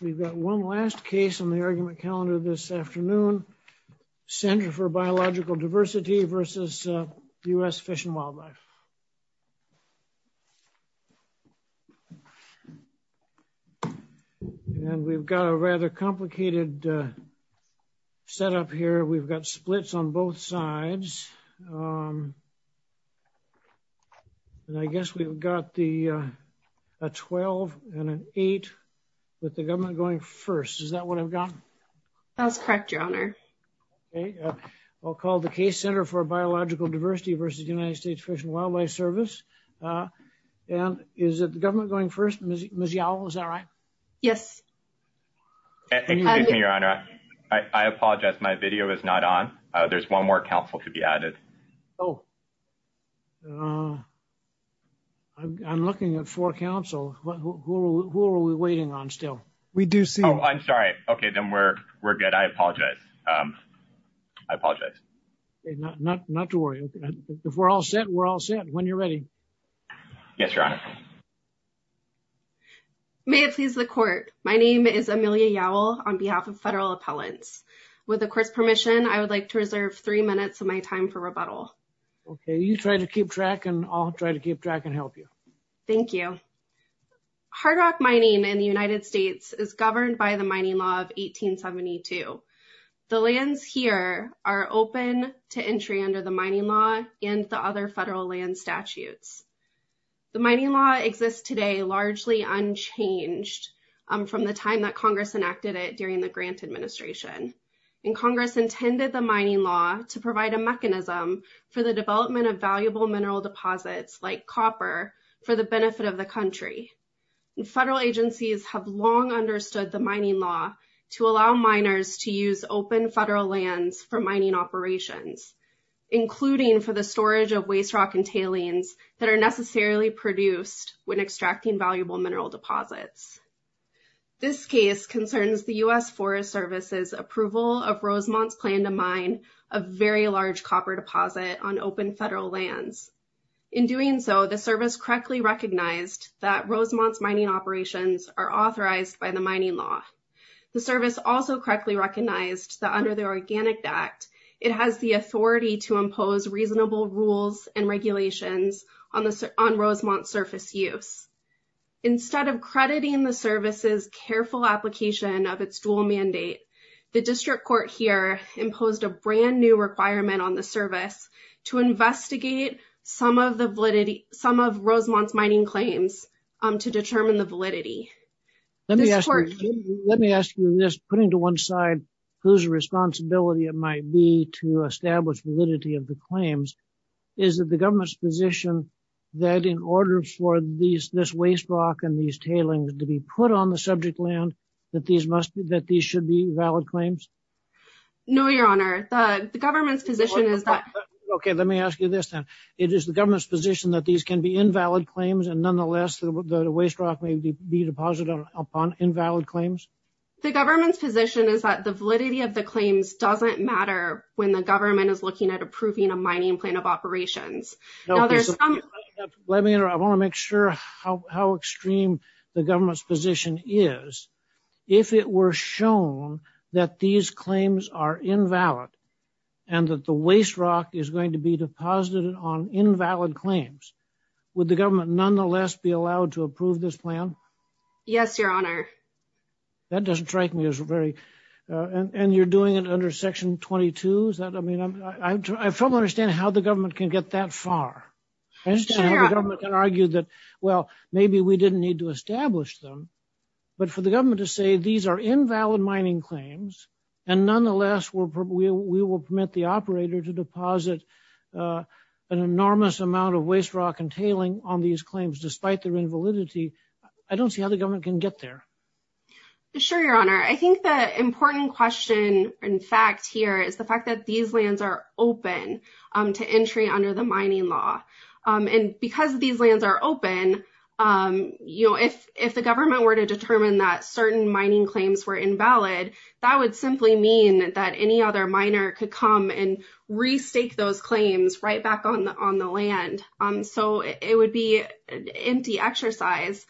We've got one last case on the argument calendar this afternoon. Ctr. for Biological Diversity v. USFWS And we've got a rather complicated setup here. We've got splits on both sides. And I guess we've got a 12 and an 8 with the government going first. Is that what I've got? That's correct, Your Honor. Okay. I'll call the case Ctr. for Biological Diversity v. USFWS. And is it the government going first? Ms. Yao, is that right? Yes. Excuse me, Your Honor. I apologize. My video is not on. There's one more counsel to be added. Oh. I'm looking at four counsel. Who are we waiting on still? We do see them. Oh, I'm sorry. Okay, then we're good. I apologize. I apologize. Not to worry. If we're all set, we're all set. When you're ready. Yes, Your Honor. May it please the Court. My name is Amelia Yowell on behalf of Federal Appellants. With the Court's permission, I would like to reserve three minutes of my time for rebuttal. Okay. You try to keep track and I'll try to keep track and help you. Thank you. Hard rock mining in the United States is governed by the Mining Law of 1872. The lands here are open to entry under the Mining Law and the other federal land statutes. The Mining Law exists today largely unchanged from the time that Congress enacted it during the Grant Administration. Congress intended the Mining Law to provide a mechanism for the development of valuable mineral deposits like copper for the benefit of the country. Federal agencies have long understood the Mining Law to allow miners to use open federal lands for mining operations, including for the storage of waste rock and tailings that are necessarily produced when extracting valuable mineral deposits. This case concerns the U.S. Forest Service's approval of Rosemont's plan to mine a very large copper deposit on open federal lands. In doing so, the Service correctly recognized that Rosemont's mining operations are authorized by the Mining Law. The Service also correctly recognized that under the Organic Act, it has the authority to impose reasonable rules and regulations on Rosemont's surface use. Instead of crediting the Service's careful application of its dual mandate, the District Court here imposed a brand new requirement on the Service to investigate some of the validity, some of Rosemont's mining claims to determine the validity. Let me ask you this, putting to one side whose responsibility it might be to establish validity of the claims, is it the government's position that in order for this waste rock and these tailings to be put on the subject land, that these should be valid claims? No, Your Honor. The government's position is that... Okay, let me ask you this then. It is the government's position that these can be invalid claims and nonetheless, the waste rock may be deposited upon invalid claims? The government's position is that the validity of the claims doesn't matter when the government is looking at approving a mining plan of operations. Let me interrupt. I want to make sure how extreme the government's position is. If it were shown that these claims are invalid and that the waste rock is going to be deposited on invalid claims, would the government nonetheless be allowed to approve this plan? Yes, Your Honor. That doesn't strike me as very... And you're doing it under Section 22? I don't understand how the government can get that far. I understand how the government can argue that, well, maybe we didn't need to establish them, but for the government to say these are invalid mining claims and nonetheless, we will permit the operator to deposit an enormous amount of waste rock and tailing on these claims despite their invalidity, Sure, Your Honor. I think the important question, in fact, here is the fact that these lands are open to entry under the mining law. And because these lands are open, if the government were to determine that certain mining claims were invalid, that would simply mean that any other miner could come and restake those claims right back on the land. So it would be an empty exercise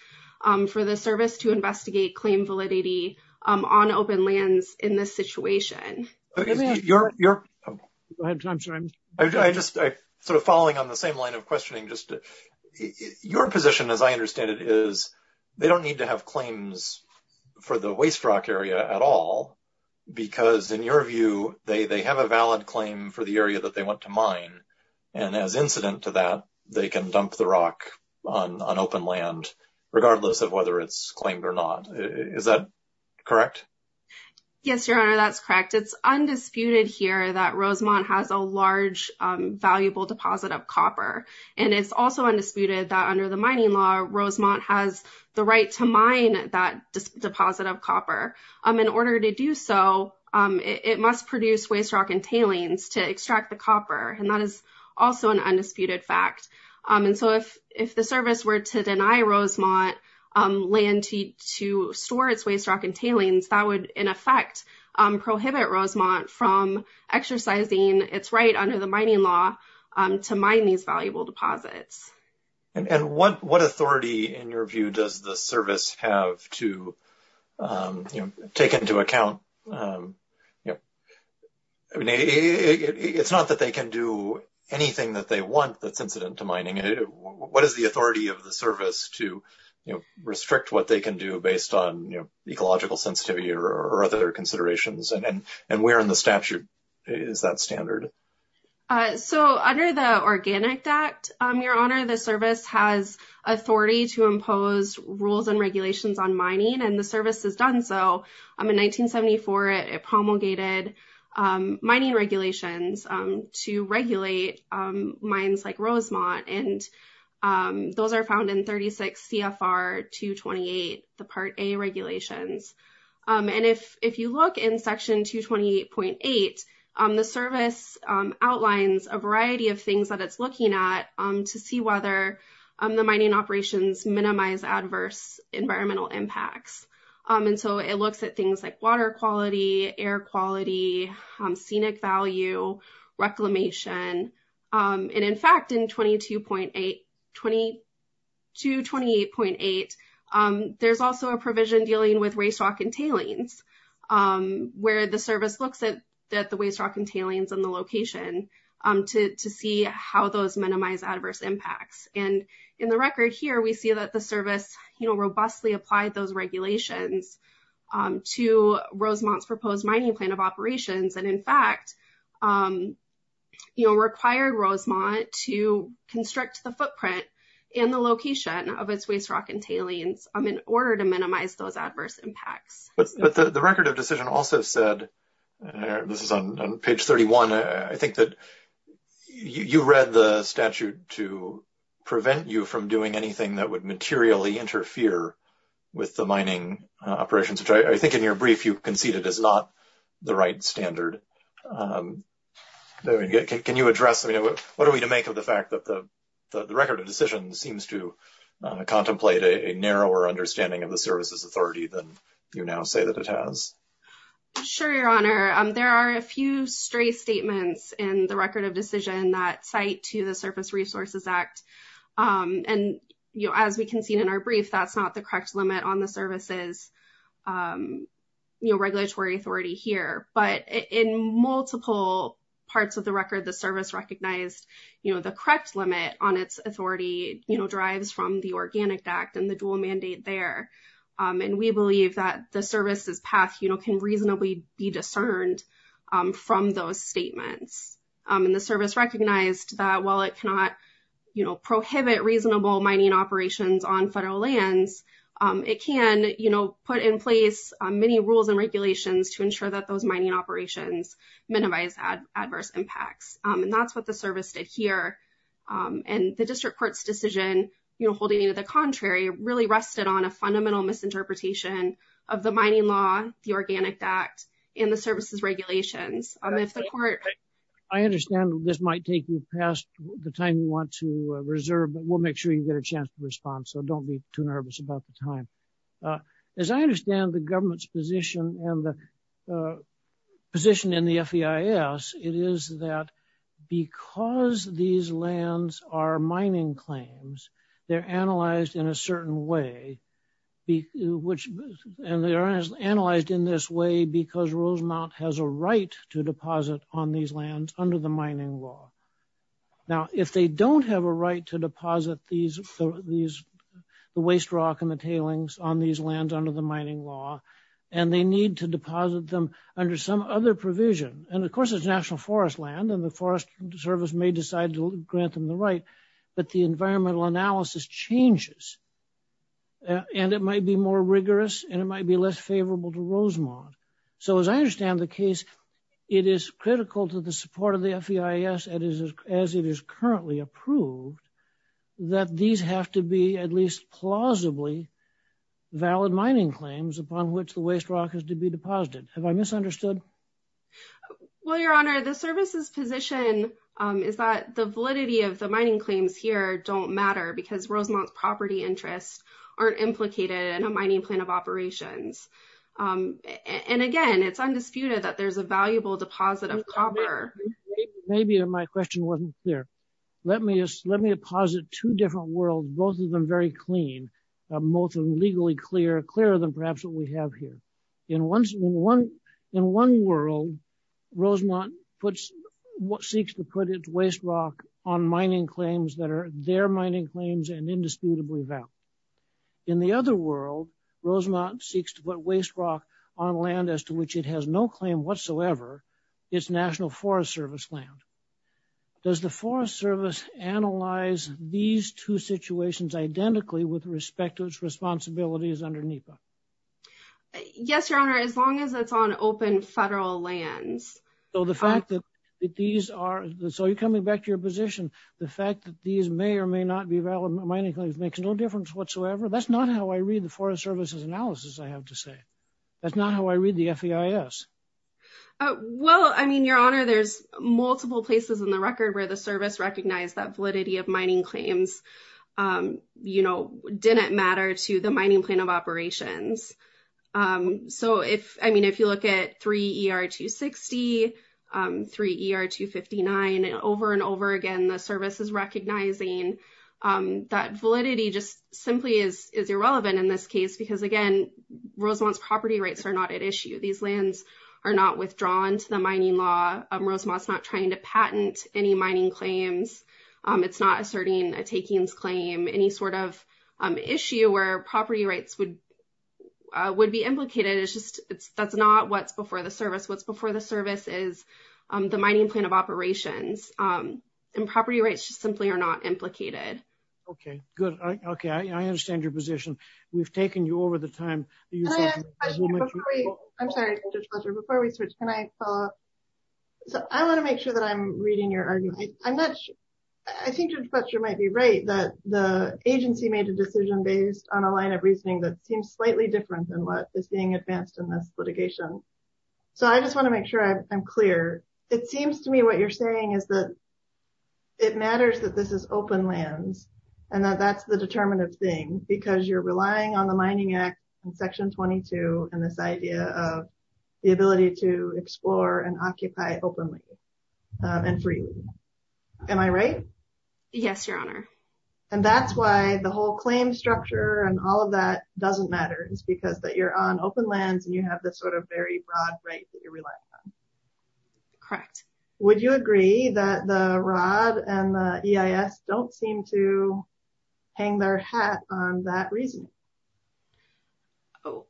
for the service to investigate claim validity on open lands in this situation. I'm sorry. I'm just sort of following on the same line of questioning. Your position, as I understand it, is they don't need to have claims for the waste rock area at all because, in your view, they have a valid claim for the area that they went to mine. And as incident to that, they can dump the rock on open land, regardless of whether it's claimed or not. Is that correct? Yes, Your Honor, that's correct. It's undisputed here that Rosemont has a large, valuable deposit of copper. And it's also undisputed that under the mining law, Rosemont has the right to mine that deposit of copper. In order to do so, it must produce waste rock and tailings to extract the copper. And that is also an undisputed fact. And so if the service were to deny Rosemont land to store its waste rock and tailings, that would, in effect, prohibit Rosemont from exercising its right under the mining law to mine these valuable deposits. And what authority, in your view, does the service have to take into account? It's not that they can do anything that they want that's incident to mining. What is the authority of the service to restrict what they can do based on ecological sensitivity or other considerations? And where in the statute is that standard? So under the Organic Act, Your Honor, the service has authority to impose rules and regulations on mining, and the service has done so. In 1974, it promulgated mining regulations to regulate mines like Rosemont, and those are found in 36 CFR 228, the Part A regulations. And if you look in Section 228.8, the service outlines a variety of things that it's looking at to see whether the mining operations minimize adverse environmental impacts. And so it looks at things like water quality, air quality, scenic value, reclamation. And, in fact, in 228.8, there's also a provision dealing with waste rock and tailings where the service looks at the waste rock and tailings and the location to see how those minimize adverse impacts. And in the record here, we see that the service, you know, required the service to comply with the regulations to Rosemont's proposed mining plan of operations. And, in fact, you know, required Rosemont to constrict the footprint and the location of its waste rock and tailings in order to minimize those adverse impacts. But the record of decision also said, this is on page 31, I think that you read the statute to prevent you from doing anything that would materially interfere with the mining operations, which I think in your brief you conceded is not the right standard. Can you address, I mean, what are we to make of the fact that the record of decision seems to contemplate a narrower understanding of the services authority than you now say that it has? Sure, Your Honor. There are a few stray statements in the record of decision that cite to the Surface Resources Act. And, you know, as we conceded in our brief, that's not the correct limit on the services, you know, regulatory authority here, but in multiple parts of the record, the service recognized, you know, the correct limit on its authority, you know, drives from the Organic Act and the dual mandate there. And we believe that the services path, you know, can reasonably be discerned from those statements. And the service recognized that while it cannot, you know, prohibit reasonable mining operations on federal lands, it can, you know, put in place many rules and regulations to ensure that those mining operations minimize adverse impacts. And that's what the service did here. And the district court's decision, you know, Holding you to the contrary really rested on a fundamental misinterpretation of the mining law, the Organic Act and the services regulations. I understand this might take you past the time you want to reserve, but we'll make sure you get a chance to respond. So don't be too nervous about the time. As I understand the government's position and the position in the FEIS, it is that because these lands are mining claims, they're analyzed in a certain way. And they are analyzed in this way because Rosemount has a right to deposit on these lands under the mining law. Now, if they don't have a right to deposit these, the waste rock and the tailings on these lands under the mining law, and they need to deposit them under some other provision. And of course it's national forest land and the forest service may decide to grant them the right. But the environmental analysis changes. And it might be more rigorous and it might be less favorable to Rosemont. So as I understand the case, it is critical to the support of the FEIS, as it is currently approved, that these have to be at least plausibly valid mining claims upon which the waste rock is to be deposited. Have I misunderstood? Well, Your Honor, the service's position is that the validity of the mining claims here don't matter because Rosemont's property interests aren't implicated in a mining plan of operations. And again, it's undisputed that there's a valuable deposit of copper. Maybe my question wasn't clear. Let me deposit two different worlds, both of them very clean, both of them legally clear, clearer than perhaps what we have here. In one world, Rosemont seeks to put its waste rock on mining claims that are their mining claims and indisputably valid. In the other world, Rosemont seeks to put waste rock on land as to which it has no claim whatsoever. It's national forest service land. Does the forest service analyze these two situations identically with respect to its responsibilities under NEPA? Yes, Your Honor, as long as it's on open federal lands. So the fact that these are, so you're coming back to your position. The fact that these may or may not be valid mining claims makes no difference whatsoever. That's not how I read the forest services analysis, I have to say. That's not how I read the FEIS. Well, I mean, Your Honor, there's multiple places in the record where the service recognized that validity of mining claims, you know, didn't matter to the mining plan of operations. So if, I mean, if you look at 3 ER 260, 3 ER 259 and over and over again, the service is recognizing that validity just simply is irrelevant in this case, because again, Rosemont's property rights are not at issue. These lands are not withdrawn to the mining law. Rosemont's not trying to patent any mining claims. It's not asserting a takings claim, any sort of issue where property rights would be implicated. It's just, that's not what's before the service. What's before the service is the mining plan of operations and property rights just simply are not implicated. Okay, good. Okay. I understand your position. We've taken you over the time. I'm sorry, Judge Fletcher, before we switch, can I follow up? So I want to make sure that I'm reading your argument. I think Judge Fletcher might be right that the agency made a decision based on a line of reasoning that seems slightly different than what is being advanced in this litigation. So I just want to make sure I'm clear. It seems to me what you're saying is that it matters that this is open lands and that that's the determinative thing because you're relying on the mining act and section 22. And this idea of the ability to explore and occupy openly and freely. Am I right? Yes, Your Honor. And that's why the whole claim structure and all of that doesn't matter. It's because that you're on open lands and you have this sort of very broad right that you're relying on. Correct. Would you agree that the rod and the EIS don't seem to hang their hat on that reason? Oh,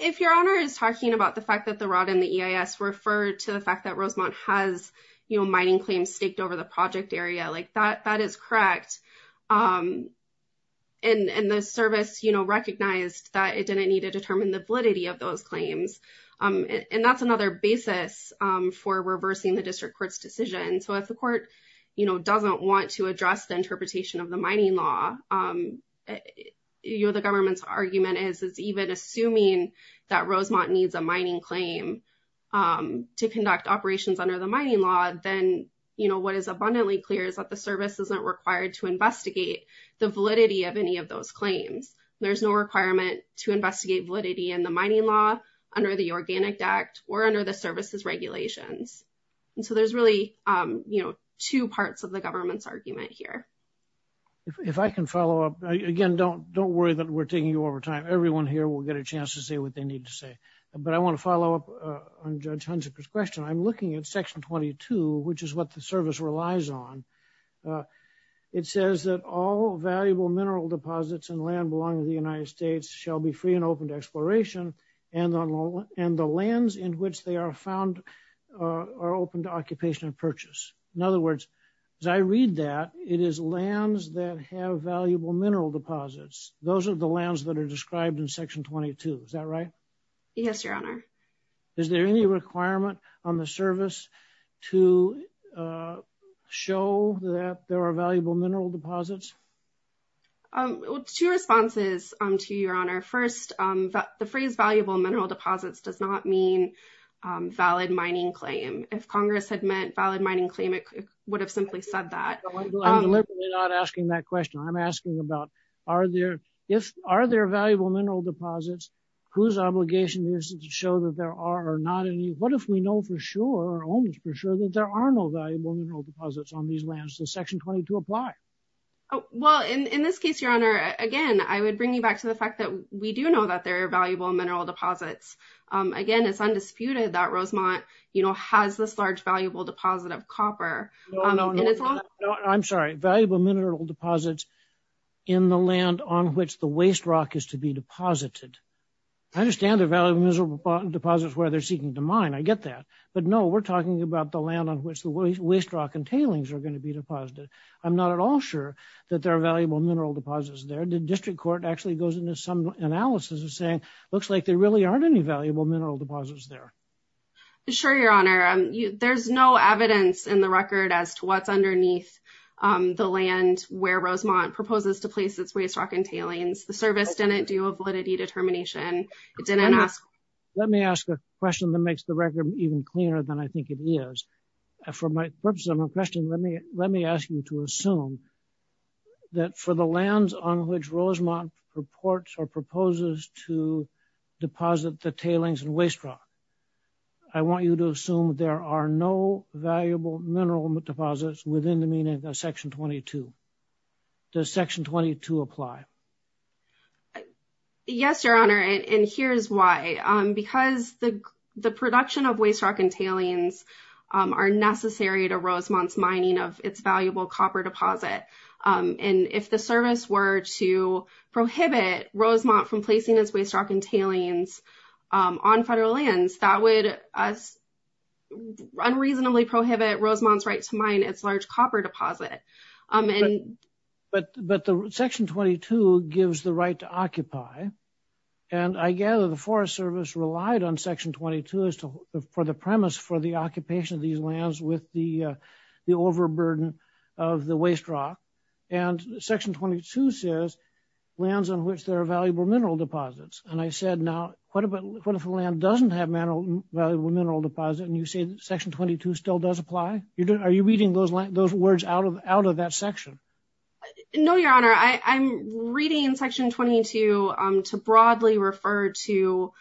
if Your Honor is talking about the fact that the rod and the EIS were referred to the fact that Rosemont has, you know, mining claims staked over the project area like that, that is correct. And the service, you know, recognized that it didn't need to determine the validity of those claims. And that's another basis for reversing the district court's decision. So if the court, you know, doesn't want to address the interpretation of the mining law, you know, the government's argument is even assuming that Rosemont needs a mining claim to conduct operations under the mining law, then, you know, what is abundantly clear is that the service isn't required to investigate the validity of any of those claims. There's no requirement to investigate validity and the mining law under the organic act or under the services regulations. And so there's really, you know, two parts of the government's argument here. If I can follow up again, don't, don't worry that we're taking you over time. Everyone here will get a chance to say what they need to say, but I want to follow up on judge Huntsman's question. I'm looking at section 22, which is what the service relies on. It says that all valuable mineral deposits and land belonging to the United States shall be free and open to exploration and on loan and the lands in which they are found are open to occupation and purchase. In other words, as I read that, it is lands that have valuable mineral deposits. Those are the lands that are described in section 22. Is that right? Yes, your honor. Is there any requirement on the service to show that there are valuable mineral deposits? Two responses to your honor. First, the phrase valuable mineral deposits does not mean valid mining claim. If Congress had meant valid mining claim, it would have simply said that. I'm not asking that question. I'm asking about are there valuable mineral deposits whose obligation is to show that there are or not any. What if we know for sure or almost for sure that there are no valuable mineral deposits on these lands? Does section 22 apply? Well, in this case, your honor, again, I would bring you back to the fact that we do know that there are valuable mineral deposits. Again, it's undisputed that Rosemont has this large valuable deposit of copper. I'm sorry. Valuable mineral deposits in the land on which the waste rock is to be deposited. I understand the value of miserable deposits where they're seeking to mine. I get that, but no, we're talking about the land on which the waste rock and tailings are going to be deposited. I'm not at all sure that there are valuable mineral deposits there. The district court actually goes into some analysis of saying, it looks like there really aren't any valuable mineral deposits there. Sure. Your honor. There's no evidence in the record as to what's underneath the land where Rosemont proposes to place its waste rock and tailings. The service didn't do a validity determination. It didn't ask. Let me ask a question that makes the record even cleaner than I think it is for my purpose. I'm a question. Let me, let me ask you to assume that for the lands on which Rosemont reports or proposes to deposit the tailings and waste rock. I want you to assume there are no valuable mineral deposits within the meaning of section 22. Does section 22 apply? Yes, your honor. And here's why, because the production of waste rock and tailings are necessary to Rosemont's mining of its valuable copper deposit. And if the service were to prohibit Rosemont from placing this waste rock and tailings on federal lands that would unreasonably prohibit Rosemont's right to mine its large copper deposit. But, but the section 22 gives the right to occupy. And I gather the forest service relied on section 22 as to the, for the premise for the occupation of these lands with the, the overburden of the waste rock and section 22 says lands on which there are valuable mineral deposits. And I said, now, what about what if a land doesn't have mineral valuable mineral deposit? And you say that section 22 still does apply. You're doing, are you reading those words out of, out of that section? No, your honor. I, I'm reading section 22 to broadly refer to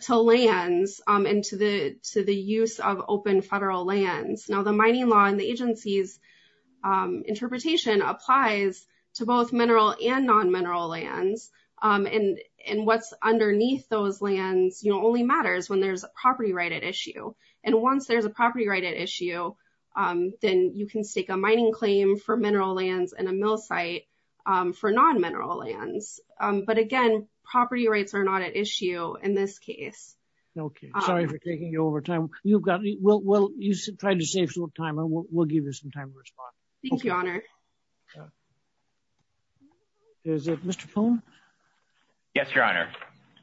to lands and to the, to the use of open federal lands. Now the mining law and the agency's interpretation applies to both mineral and non-mineral lands. And, and what's underneath those lands, you know, only matters when there's a property right at issue. And once there's a property right at issue then you can stake a mining claim for mineral lands and a mill site for non-mineral lands. But again, property rights are not at issue in this case. Okay. Sorry for taking you over time. You've got, well, you tried to save some time and we'll give you some time to respond. Thank you, your honor. Is it Mr. Poon? Yes, your honor.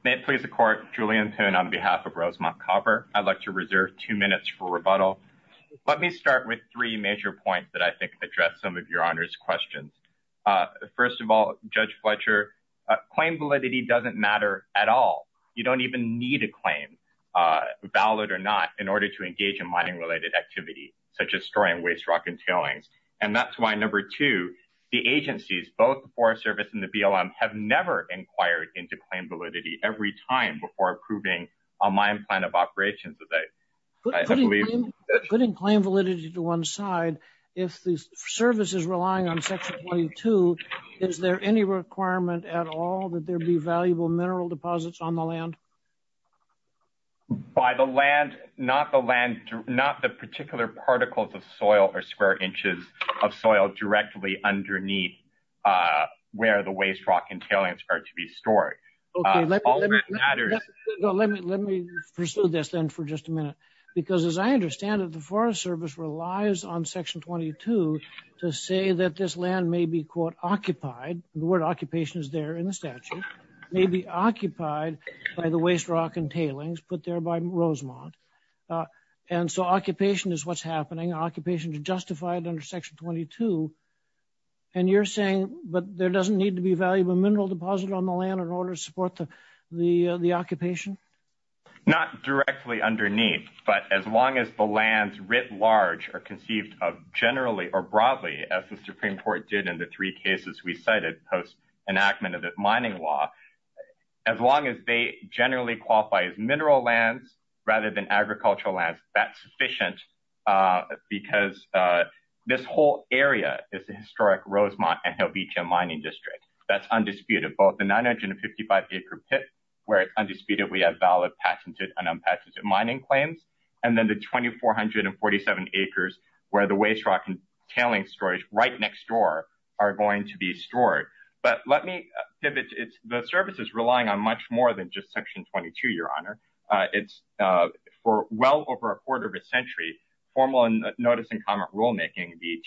May it please the court. Julian Poon on behalf of Rosemont Copper, I'd like to reserve two minutes for rebuttal. Let me start with three major points that I think address some of your honor's questions. First of all, judge Fletcher, claim validity doesn't matter at all. You don't even need a claim, valid or not in order to engage in mining related activity, such as storing waste rock and tailings. And that's why number two, the agencies, both the Forest Service and the BLM, have never inquired into claim validity every time before approving a mine plan of operations. Putting claim validity to one side, if the service is relying on Section 22, is there any requirement at all that there be valuable mineral deposits on the land? By the land, not the land, but the minerals of soil or square inches of soil directly underneath where the waste rock and tailings are to be stored. Let me pursue this then for just a minute, because as I understand it, the Forest Service relies on Section 22 to say that this land may be quote occupied. The word occupation is there in the statute, may be occupied by the waste rock and tailings put there by Rosemont. And so occupation is what's happening. Occupation is justified under Section 22 and you're saying, but there doesn't need to be valuable mineral deposit on the land in order to support the occupation? Not directly underneath, but as long as the lands writ large are conceived of generally or broadly, as the Supreme Court did in the three cases we cited post enactment of the mining law, as long as they generally qualify as mineral lands rather than agricultural lands, that's sufficient, because this whole area is a historic Rosemont and Hilbitcha mining district. That's undisputed. Both the 955 acre pit where it's undisputed we have valid patented and unpatented mining claims. And then the 2,447 acres where the waste rock and tailings storage right next door are going to be stored. But let me pivot. The service is relying on much more than just Section 22, Your Honor. It's for well over a quarter of a century, formal notice and comment rulemaking, the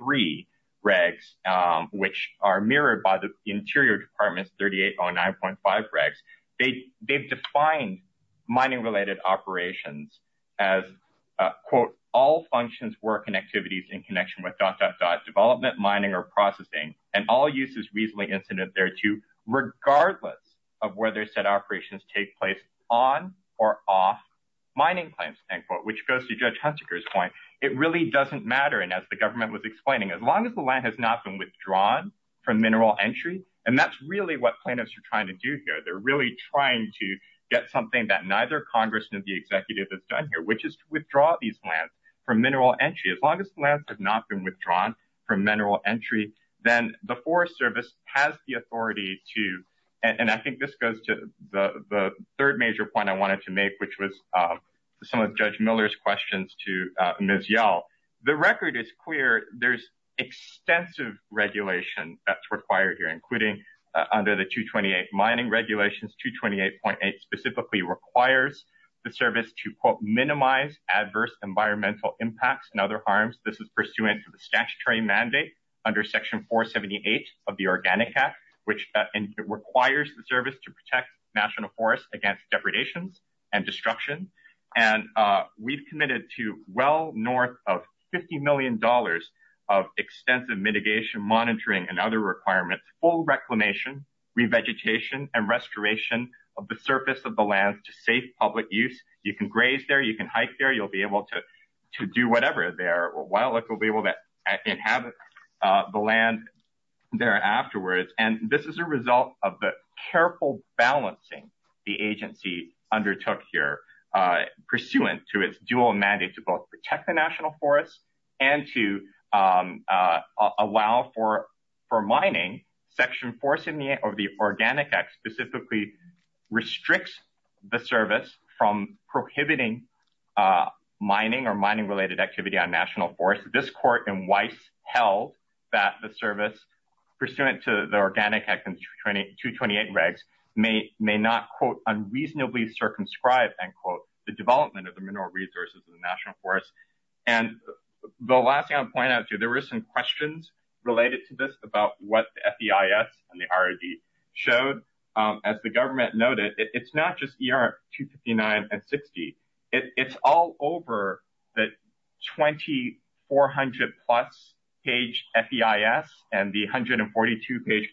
228.3 regs, which are mirrored by the interior departments, 3809.5 regs. They've defined mining related operations as quote, all functions, work and activities in connection with dot, dot, dot, dot, dot, dot, dot, dot. And all use is reasonably incident, there too, regardless of whether set operations take place on or off. Mining plans, which goes to judge Hunter's point, it really doesn't matter. And as the government was explaining, as long as the land has not been withdrawn from mineral entry, and that's really what plaintiffs are trying to do here. They're really trying to get something that neither Congress. The executive has done here, which is to withdraw these plans from mineral entry. As long as the land has not been withdrawn from mineral entry, then the forest service has the authority to. And I think this goes to the third major point I wanted to make, which was some of the judge Miller's questions to Ms. Yell. The record is clear. There's extensive regulation that's required here, including under the 228 mining regulations, 228.8 specifically requires the service to quote minimize adverse environmental impacts and other harms. This is pursuant to the statutory mandate under section four 78 of the organic app, which requires the service to protect national forests against depredations and destruction. And we've committed to well north of $50 million of extensive mitigation, monitoring and other requirements, And this is a result of the careful balancing the agency undertook Allow for. For mining. To be able to. Do whatever they are. While it will be able to. Inhabit. The land. There afterwards. And this is a result of the careful balancing. The agency undertook here. Pursuant to its dual mandate to both protect the national forests. And to. Allow for. For mining. Section four 78 of the organic X specifically. Restricts. The service from prohibiting. Mining or mining related activity on national forest. This court in Weiss held. That the service. Pursuant to the organic. 228 regs. May may not quote unreasonably circumscribe. The development of the mineral resources of the national forest. And the last thing I'll point out to you, There were some questions. Related to this about what. And the. Showed. As the government noted. It's not just. Two 59 and 60. It's all over. That. 2400 plus. Page. And the 142 page.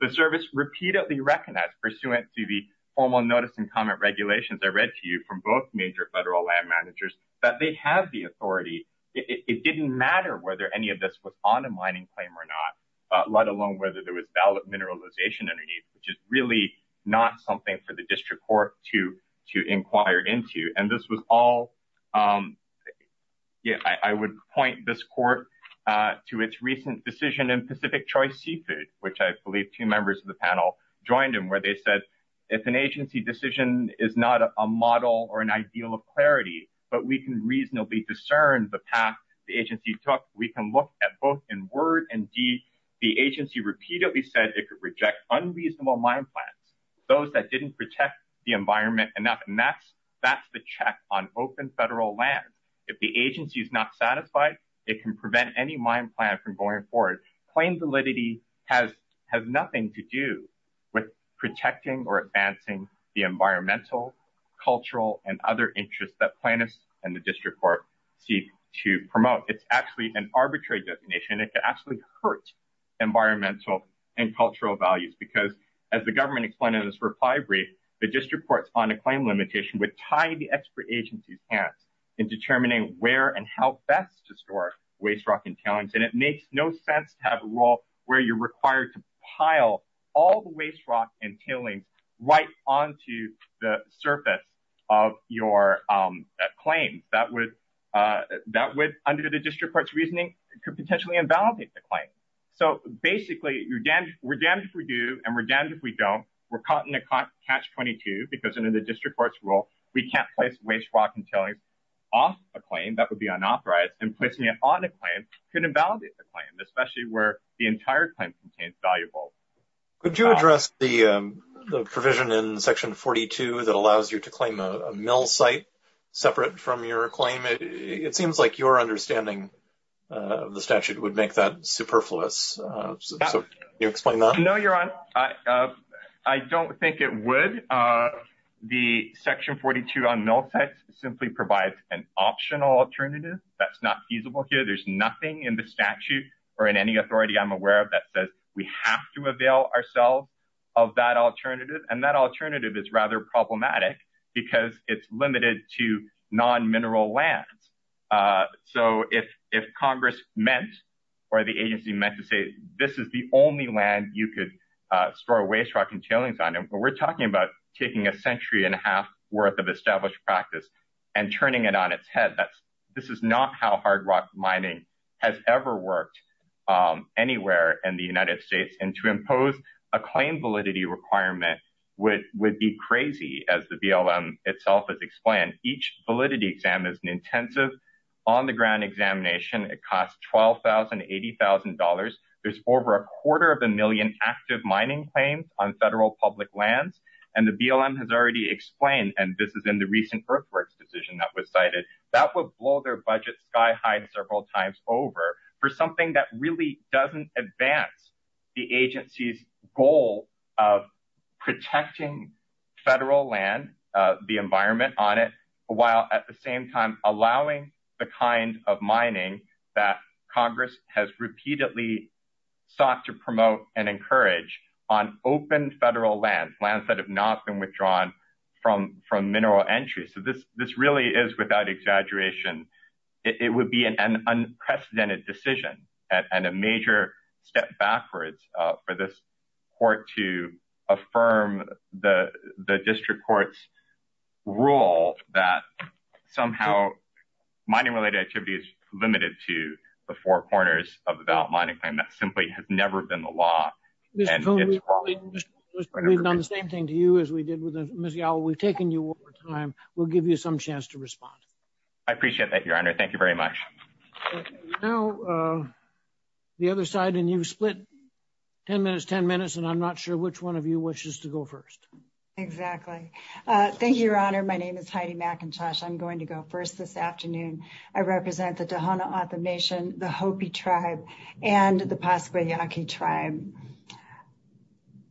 The service repeatedly recognized pursuant to the formal notice and comment regulations. I read to you from both major federal land managers. That they have the authority. It didn't matter whether any of this was on a mining claim or not. Let alone whether there was valid mineralization underneath, which is really not something for the district court to, to inquire into. And this was all. Yeah, I would point this court. To its recent decision in Pacific choice seafood, which I believe two members of the panel. Joined him where they said. It's an agency decision is not a model or an ideal of clarity. But we can reasonably discern the path. The agency took, we can look at both in word and deed. The agency repeatedly said it could reject unreasonable mine plans. Those that didn't protect the environment enough. That's the check on open federal land. If the agency is not satisfied. It can prevent any mine plan from going forward. Claim validity has, has nothing to do with protecting or advancing the environmental. Cultural and other interests that plan is. And the district court. To promote. It's actually an arbitrary definition. It actually hurts. Environmental and cultural values, because as the government. I'm going to explain it as for pie brief. The district courts on a claim limitation with tidy expert agencies. And determining where and how best to store. Waste rock and talents. And it makes no sense to have a role. Where you're required to pile. All the waste rock and killing. Right onto the surface. Of your claim. That would. Under the district court's reasoning could potentially invalidate the claim. So basically you're done. We're done for you. And we're done. If we don't, we're caught in a car. Catch 22, because under the district court's rule, we can't place waste rock and telling. Off a claim that would be unauthorized and placing it on a claim. Couldn't invalidate the claim, especially where the entire claim contains valuable. Could you address the. The provision in section 42 that allows you to claim a mill site. That's not. Separate from your claim. It seems like your understanding. The statute would make that superfluous. You explain that. No, you're on. I don't think it would. The section 42 on mill sites simply provides an optional alternative. That's not feasible here. There's nothing in the statute. Or in any authority I'm aware of that says we have to avail ourselves. Of that alternative. And that alternative is rather problematic. Because it's limited to non mineral lands. So if, if Congress meant. Or the agency meant to say, this is the only land you could. Store waste rock and tailings on him, but we're talking about. Taking a century and a half worth of established practice. And turning it on its head. That's this is not how hard rock mining. Has ever worked. So, to impose a claim validity requirement. Anywhere in the United States and to impose a claim validity requirement. With would be crazy as the BLM itself is explained. Each validity exam is an intensive. On the ground examination. It costs 12,000 $80,000. There's over a quarter of a million active mining claims on federal public lands. And the BLM has already explained, This is not an alternative to non mineral land. This is not an alternative to non mineral land. And this is in the recent birth, birth decision that was cited. That would blow their budget sky high several times over for something that really doesn't advance the agency's goal. Protecting federal land, the environment on it. While at the same time, Allowing the kind of mining that Congress has repeatedly. Sought to promote and encourage on open federal lands, lands that have not been withdrawn. From from mineral entry. So this, this really is without exaggeration. It would be an unprecedented decision. And a major step backwards for this. Court to affirm the district courts. We're all in this. Role that. Somehow. Mining related activities limited to the four corners of the ballot. Simply have never been the law. We've done the same thing to you as we did with. We've taken you over time. We'll give you some chance to respond. I appreciate that. Your honor. Thank you very much. No. The other side and you've split. I'm not sure which one of you wishes to go first. Exactly. Thank you, your honor. My name is Heidi Mackintosh. I'm going to go first this afternoon. I represent the. The Hopi tribe and the possibly Yankee tribe.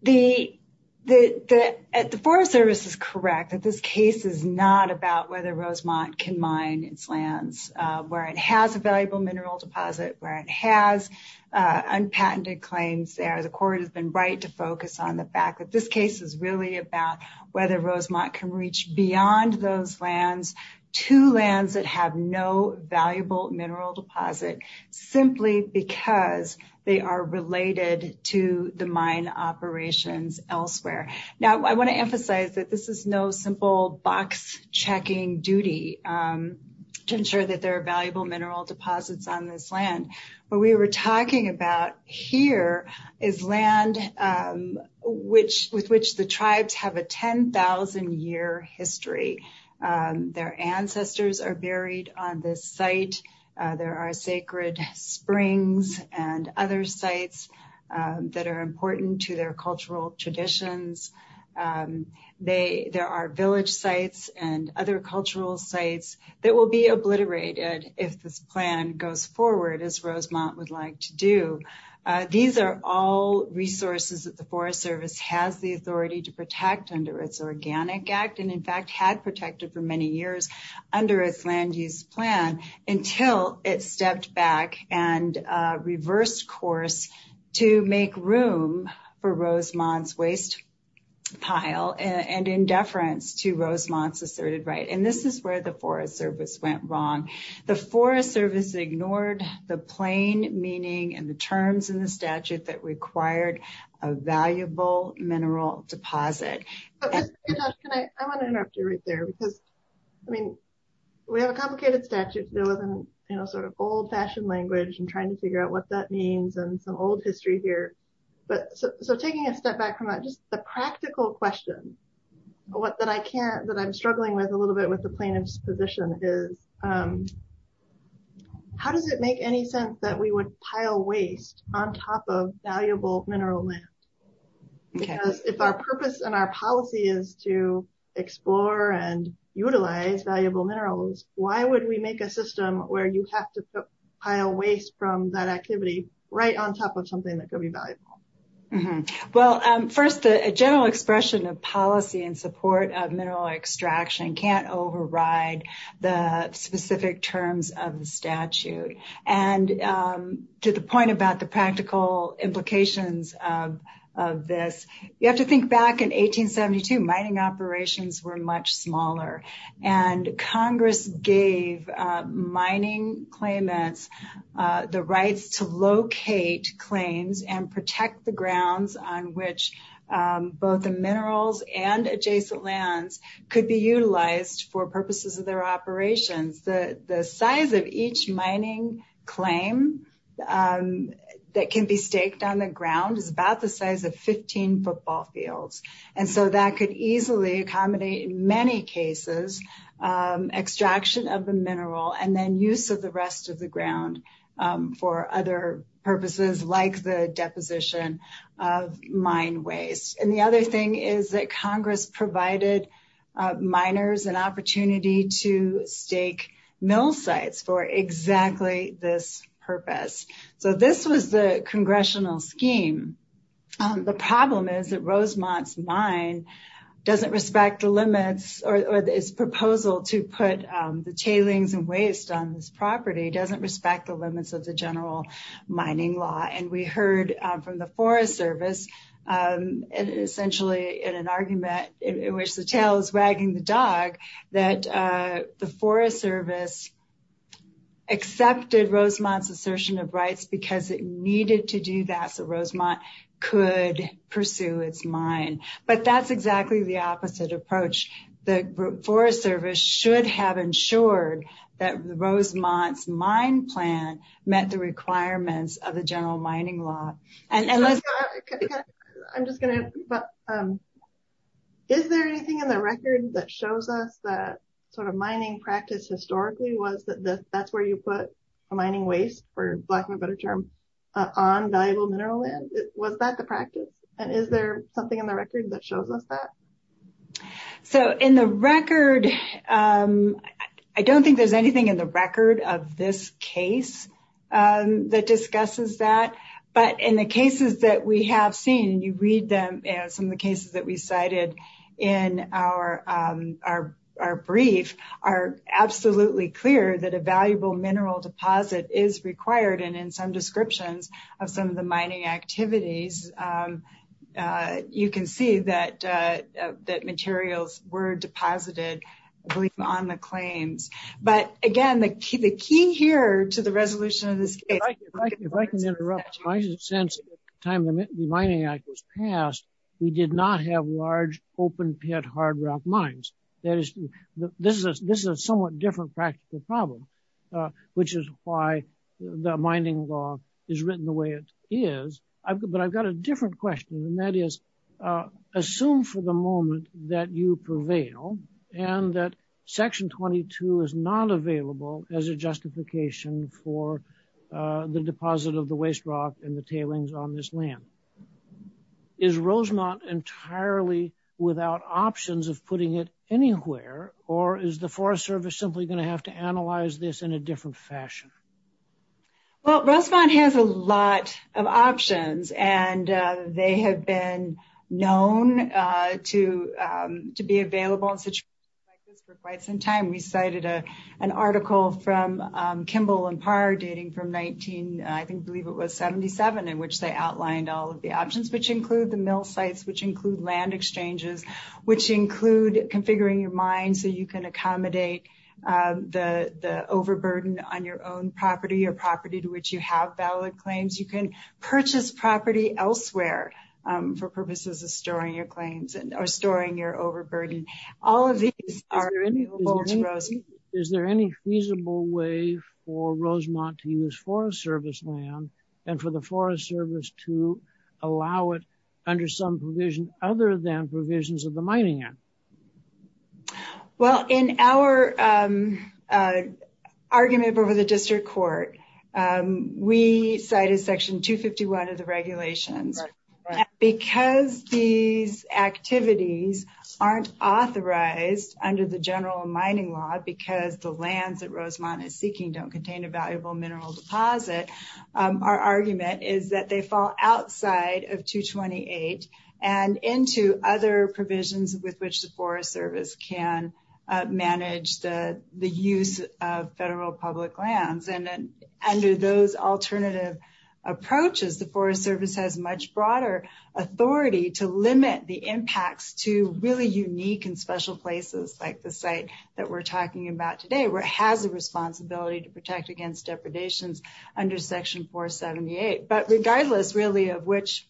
The. The forest service is correct. That this case is not about whether Rosemont can mine its lands. Where it has a valuable mineral deposit, where it has. Unpatented claims there. The court has been right to focus on the fact that this case is really about whether Rosemont can reach beyond those lands. To lands that have no valuable mineral deposit. Simply because they are related to the mine operations elsewhere. Now, I want to emphasize that this is no simple box checking duty. To ensure that there are valuable mineral deposits on this land. But we were talking about here is land. With which, with which the tribes have a 10,000 year history. Their ancestors are buried on this site. There are sacred springs and other sites. That are important to their cultural traditions. They, there are village sites and other cultural sites. That will be obliterated. If this plan goes forward as Rosemont would like to do. These are all resources that the forest service has the authority to protect under its organic act. And in fact had protected for many years. Under its land use plan. Until it stepped back and reversed course. To make room for Rosemont's waste. Pile and in deference to Rosemont's asserted, right. And this is where the forest service went wrong. The forest service ignored the plain meaning and the terms in the statute that required a valuable mineral deposit. Can I, I want to interrupt you right there because. I mean, we have a complicated statute. You know, sort of old fashioned language and trying to figure out what that means and some old history here. But so taking a step back from that, just the practical question. That I can't, that I'm struggling with a little bit with the plaintiff's position is. How does it make any sense that we would pile waste on top of valuable mineral land? Because if our purpose and our policy is to explore and utilize valuable minerals, why would we make a system where you have to pile waste from that activity right on top of something that could be valuable? Well, first, a general expression of policy and support of mineral extraction can't override the specific terms of the statute. And to the point about the practical implications of this, you have to think back in 1872, mining operations were much smaller. And Congress gave mining claimants the rights to locate claims and protect the grounds on which both the minerals and adjacent lands could be utilized for purposes of their operations. The size of each mining claim that can be staked on the ground is about the size of 15 football fields. And so that could easily accommodate many cases, extraction of the mineral and then use of the rest of the ground for other purposes like the deposition of mine waste. And the other thing is that Congress provided miners an opportunity to stake mill sites for exactly this purpose. So this was the congressional scheme. The problem is that Rosemont's mine doesn't respect the limits or its proposal to put the tailings and waste on this property doesn't respect the mining law. And we heard from the Forest Service, essentially in an argument in which the tail is wagging the dog, that the Forest Service accepted Rosemont's assertion of rights because it needed to do that so Rosemont could pursue its mine. But that's exactly the opposite approach. The Forest Service should have ensured that Rosemont's mine plan met the requirements of the general mining law. I'm just going to, is there anything in the record that shows us that sort of mining practice historically was that that's where you put a mining waste for lack of a better term on valuable mineral land? Was that the practice? And is there something in the record that shows us that? So in the record, I don't think there's anything in the record of this case that discusses that, but in the cases that we have seen, you read them and some of the cases that we cited in our brief are absolutely clear that a valuable mineral deposit is required. And in some descriptions of some of the mining activities, you can see that materials were deposited on the claims. But again, the key here to the resolution of this case. If I can interrupt, since the time the Mining Act was passed, we did not have large open pit hard rock mines. This is a somewhat different practical problem, which is why the mining law is written the way it is. But I've got a different question and that is assume for the moment that you prevail and that Section 22 is not available as a justification for the deposit of the waste rock and the tailings on this land. Is Rosemont entirely without options of putting it anywhere? Or is the Forest Service simply going to have to analyze this in a different fashion? Well, Rosemont has a lot of options, and they have been known to be available in situations like this for quite some time. We cited an article from Kimball and Parr dating from 19, I believe it was 77, in which they outlined all of the options which include the mill sites, which include land exchanges, which include configuring your mine so you can accommodate the overburden on your own property or property to which you have valid claims. You can purchase property elsewhere for purposes of storing your claims or storing your overburden. All of these are available to Rosemont. Is there any feasible way for Rosemont to use Forest Service land and for the Forest Service to allow it under some provision other than provisions of the Mining Act? Well, in our argument over the district court, we cited Section 251 of the regulations. Because these activities aren't authorized under the general mining law because the lands that Rosemont is seeking don't contain a valuable mineral deposit, our argument is that they fall outside of 228 and into other provisions with which the Forest Service can manage the use of federal public lands. And under those alternative approaches, the Forest Service has much broader authority to limit the impacts to really unique and special places like the site that we're talking about today, where it has a responsibility to protect against depredations under Section 478. But regardless really of which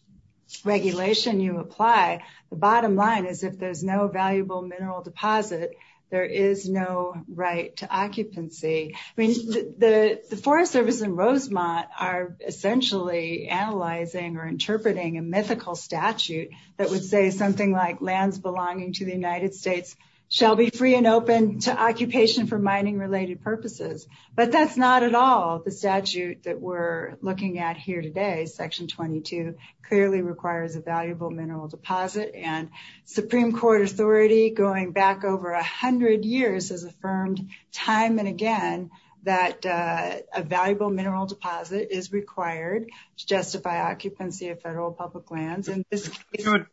regulation you apply, the bottom line is if there's no valuable mineral deposit, there is no right to occupancy. I mean, the Forest Service and Rosemont are essentially analyzing or interpreting a mythical statute that would say something like lands belonging to the United States shall be free and open to occupation for mining-related purposes. But that's not at all the statute that we're looking at here today. Section 22 clearly requires a valuable mineral deposit and Supreme Court authority going back over a hundred years has affirmed time and again that a valuable mineral deposit is required to justify occupancy of federal public lands. I'm sorry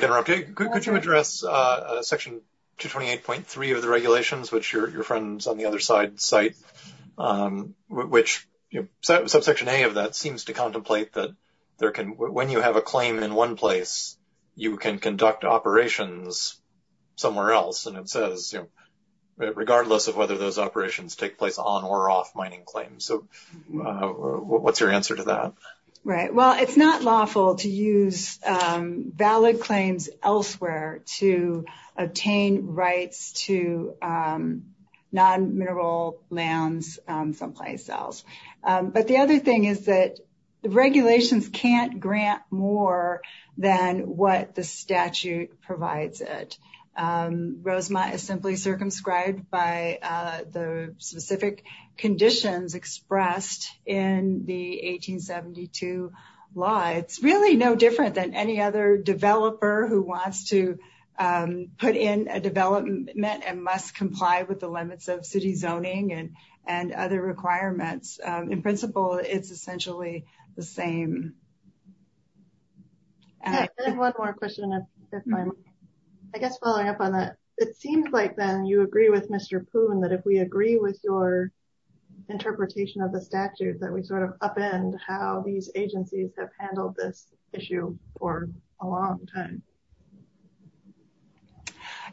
to interrupt you. Could you address Section 228.3 of the regulations, which your friends on the other side cite, which Subsection A of that seems to contemplate that there can, when you have a claim in one place, you can conduct operations somewhere else. And it says, you know, regardless of whether those operations take place on or off mining claims. So what's your answer to that? Right. Well, it's not lawful to use valid claims elsewhere to obtain rights to non-mineral lands someplace else. But the other thing is that the regulations can't grant more than what the statute provides it. Rosemont is simply circumscribed by the specific conditions expressed in the 1872 law. It's really no different than any other developer who wants to put in a development and must comply with the limits of city zoning and other requirements. In principle, it's essentially the same. I have one more question. I guess following up on that, it seems like then you agree with Mr. Poon that if we agree with your interpretation of the statute, that we sort of upend how these agencies have handled this issue for a long time.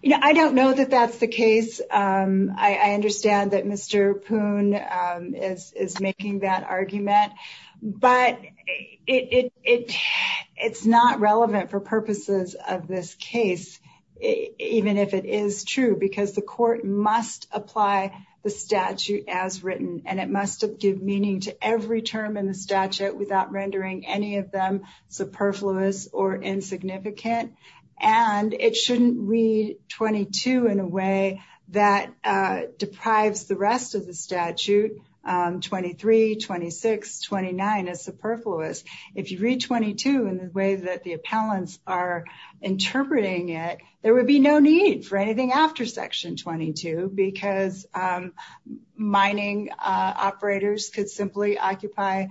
You know, I don't know that that's the case. I understand that Mr. Poon is making that argument, but it's not relevant for purposes of this case, even if it is true, because the court must apply the statute as written, and it must give meaning to every term in the statute without rendering any of them superfluous or insignificant. And it shouldn't read 22 in a way that deprives the rest of the statute, 23, 26, 29 is superfluous. If you read 22 in the way that the appellants are interpreting it, there would be no need for anything after section 22, because mining operators could simply occupy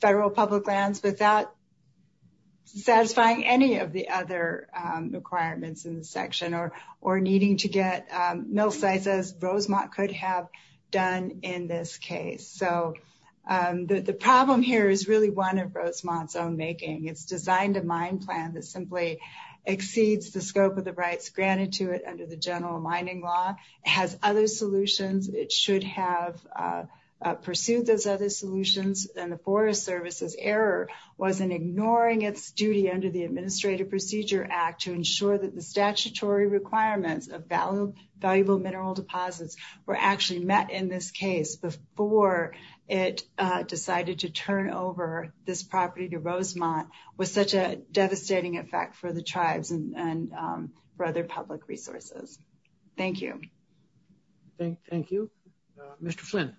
federal public lands without satisfying any of the other requirements in the section or, or needing to get mill sites as Rosemont could have done in this case. So the problem here is really one of Rosemont's own making. It's designed a mine plan that simply exceeds the scope of the rights granted to it under the general mining law has other solutions. It should have pursued those other solutions. And the forest services error wasn't ignoring its duty under the statutory requirements of value, valuable mineral deposits were actually met in this case before it decided to turn over this property to Rosemont was such a devastating effect for the tribes and for other public resources. Thank you. Thank you. Mr. Flynn.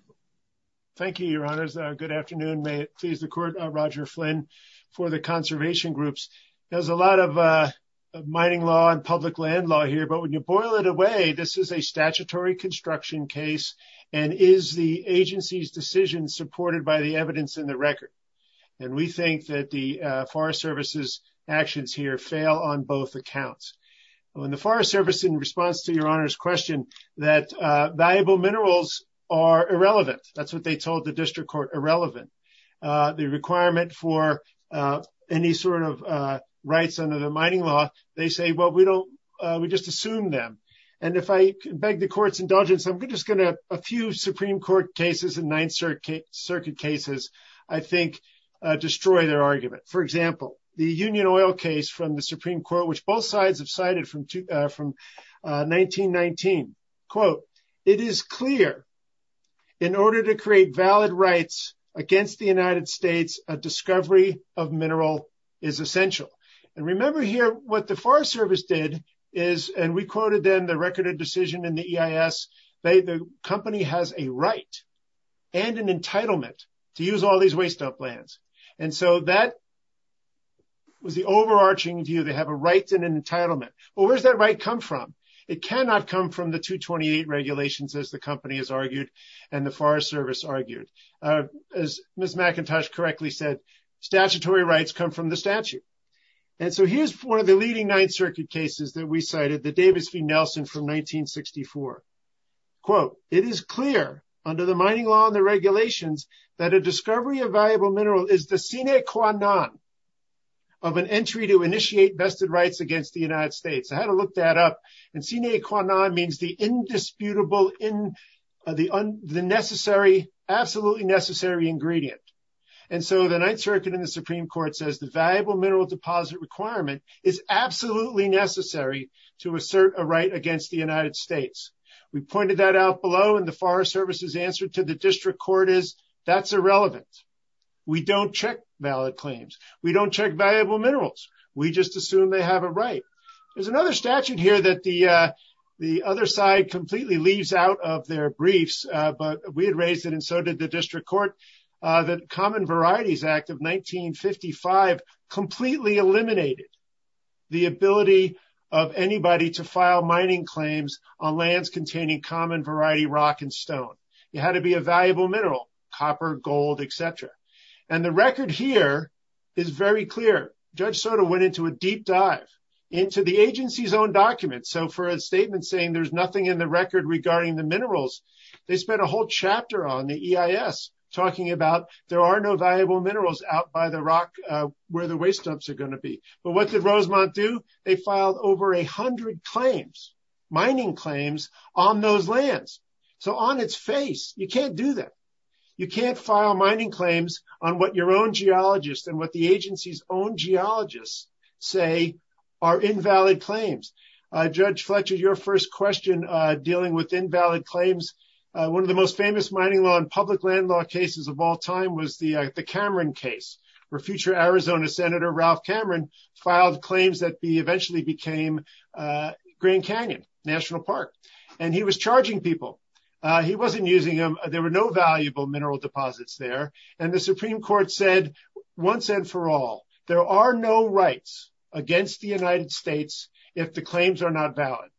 Thank you. Your honors. Good afternoon. May it please the court. Roger Flynn for the conservation groups. There's a lot of mining law and public land law here, but when you boil it away, this is a statutory construction case. And is the agency's decision supported by the evidence in the record? And we think that the forest services actions here fail on both accounts. And when the forest service in response to your honors question, that valuable minerals are irrelevant. That's what they told the district court irrelevant. The requirement for any sort of rights under the mining law. They say, well, we don't, we just assume them. And if I beg the court's indulgence, I'm just going to have a few Supreme court cases in ninth circuit circuit cases. I think destroy their argument. For example, the union oil case from the Supreme court, which both sides have cited from two from 1919 quote, It is clear. In order to create valid rights against the United States, a discovery of mineral is essential. And remember here, what the forest service did is, and we quoted them the record of decision in the EIS. They, the company has a right. And an entitlement to use all these waste up lands. And so that was the overarching view. They have a right and an entitlement, but where's that right come from? It cannot come from the two 28 regulations as the company has argued. And the forest service argued as Ms. McIntosh correctly said, statutory rights come from the statute. And so here's one of the leading ninth circuit cases that we cited the Davis v. Nelson from 1964. Quote, it is clear under the mining law and the regulations that a discovery of valuable mineral is the scenic Kwan, non of an entry to initiate vested rights against the United States. I had to look that up and see Nate Kwan on means the indisputable in the unnecessary, absolutely necessary ingredient. And so the ninth circuit in the Supreme court says the valuable mineral deposit requirement is absolutely necessary to assert a right against the United States. We pointed that out below in the forest services answer to the district court is that's irrelevant. We don't check valid claims. We don't check valuable minerals. We just assume they have a right. There's another statute here that the, the other side completely leaves out of their briefs, but we had raised it. And so did the district court that common varieties act of 1955 completely eliminated the ability of anybody to file mining claims on lands containing common variety, rock, and stone. It had to be a valuable mineral, copper, gold, et cetera. And the record here is very clear. Judge Soto went into a deep dive into the agency's own documents. So for a statement saying there's nothing in the record regarding the minerals, they spent a whole chapter on the EIS talking about there are no valuable minerals out by the rock where the waste dumps are going to be. But what did Rosemont do? They filed over a hundred claims, mining claims on those lands. So on its face, you can't do that. You can't file mining claims on what your own geologists and what the agency's own geologists say are invalid claims. Judge Fletcher, your first question dealing with invalid claims. One of the most famous mining law and public land law cases of all time was the Cameron case where future Arizona Senator Ralph Cameron filed claims that be eventually became a green Canyon national park. And he was charging people. He wasn't using them. There were no valuable mineral deposits there. And the Supreme court said once and for all, there are no rights against the United States if the claims are not valid.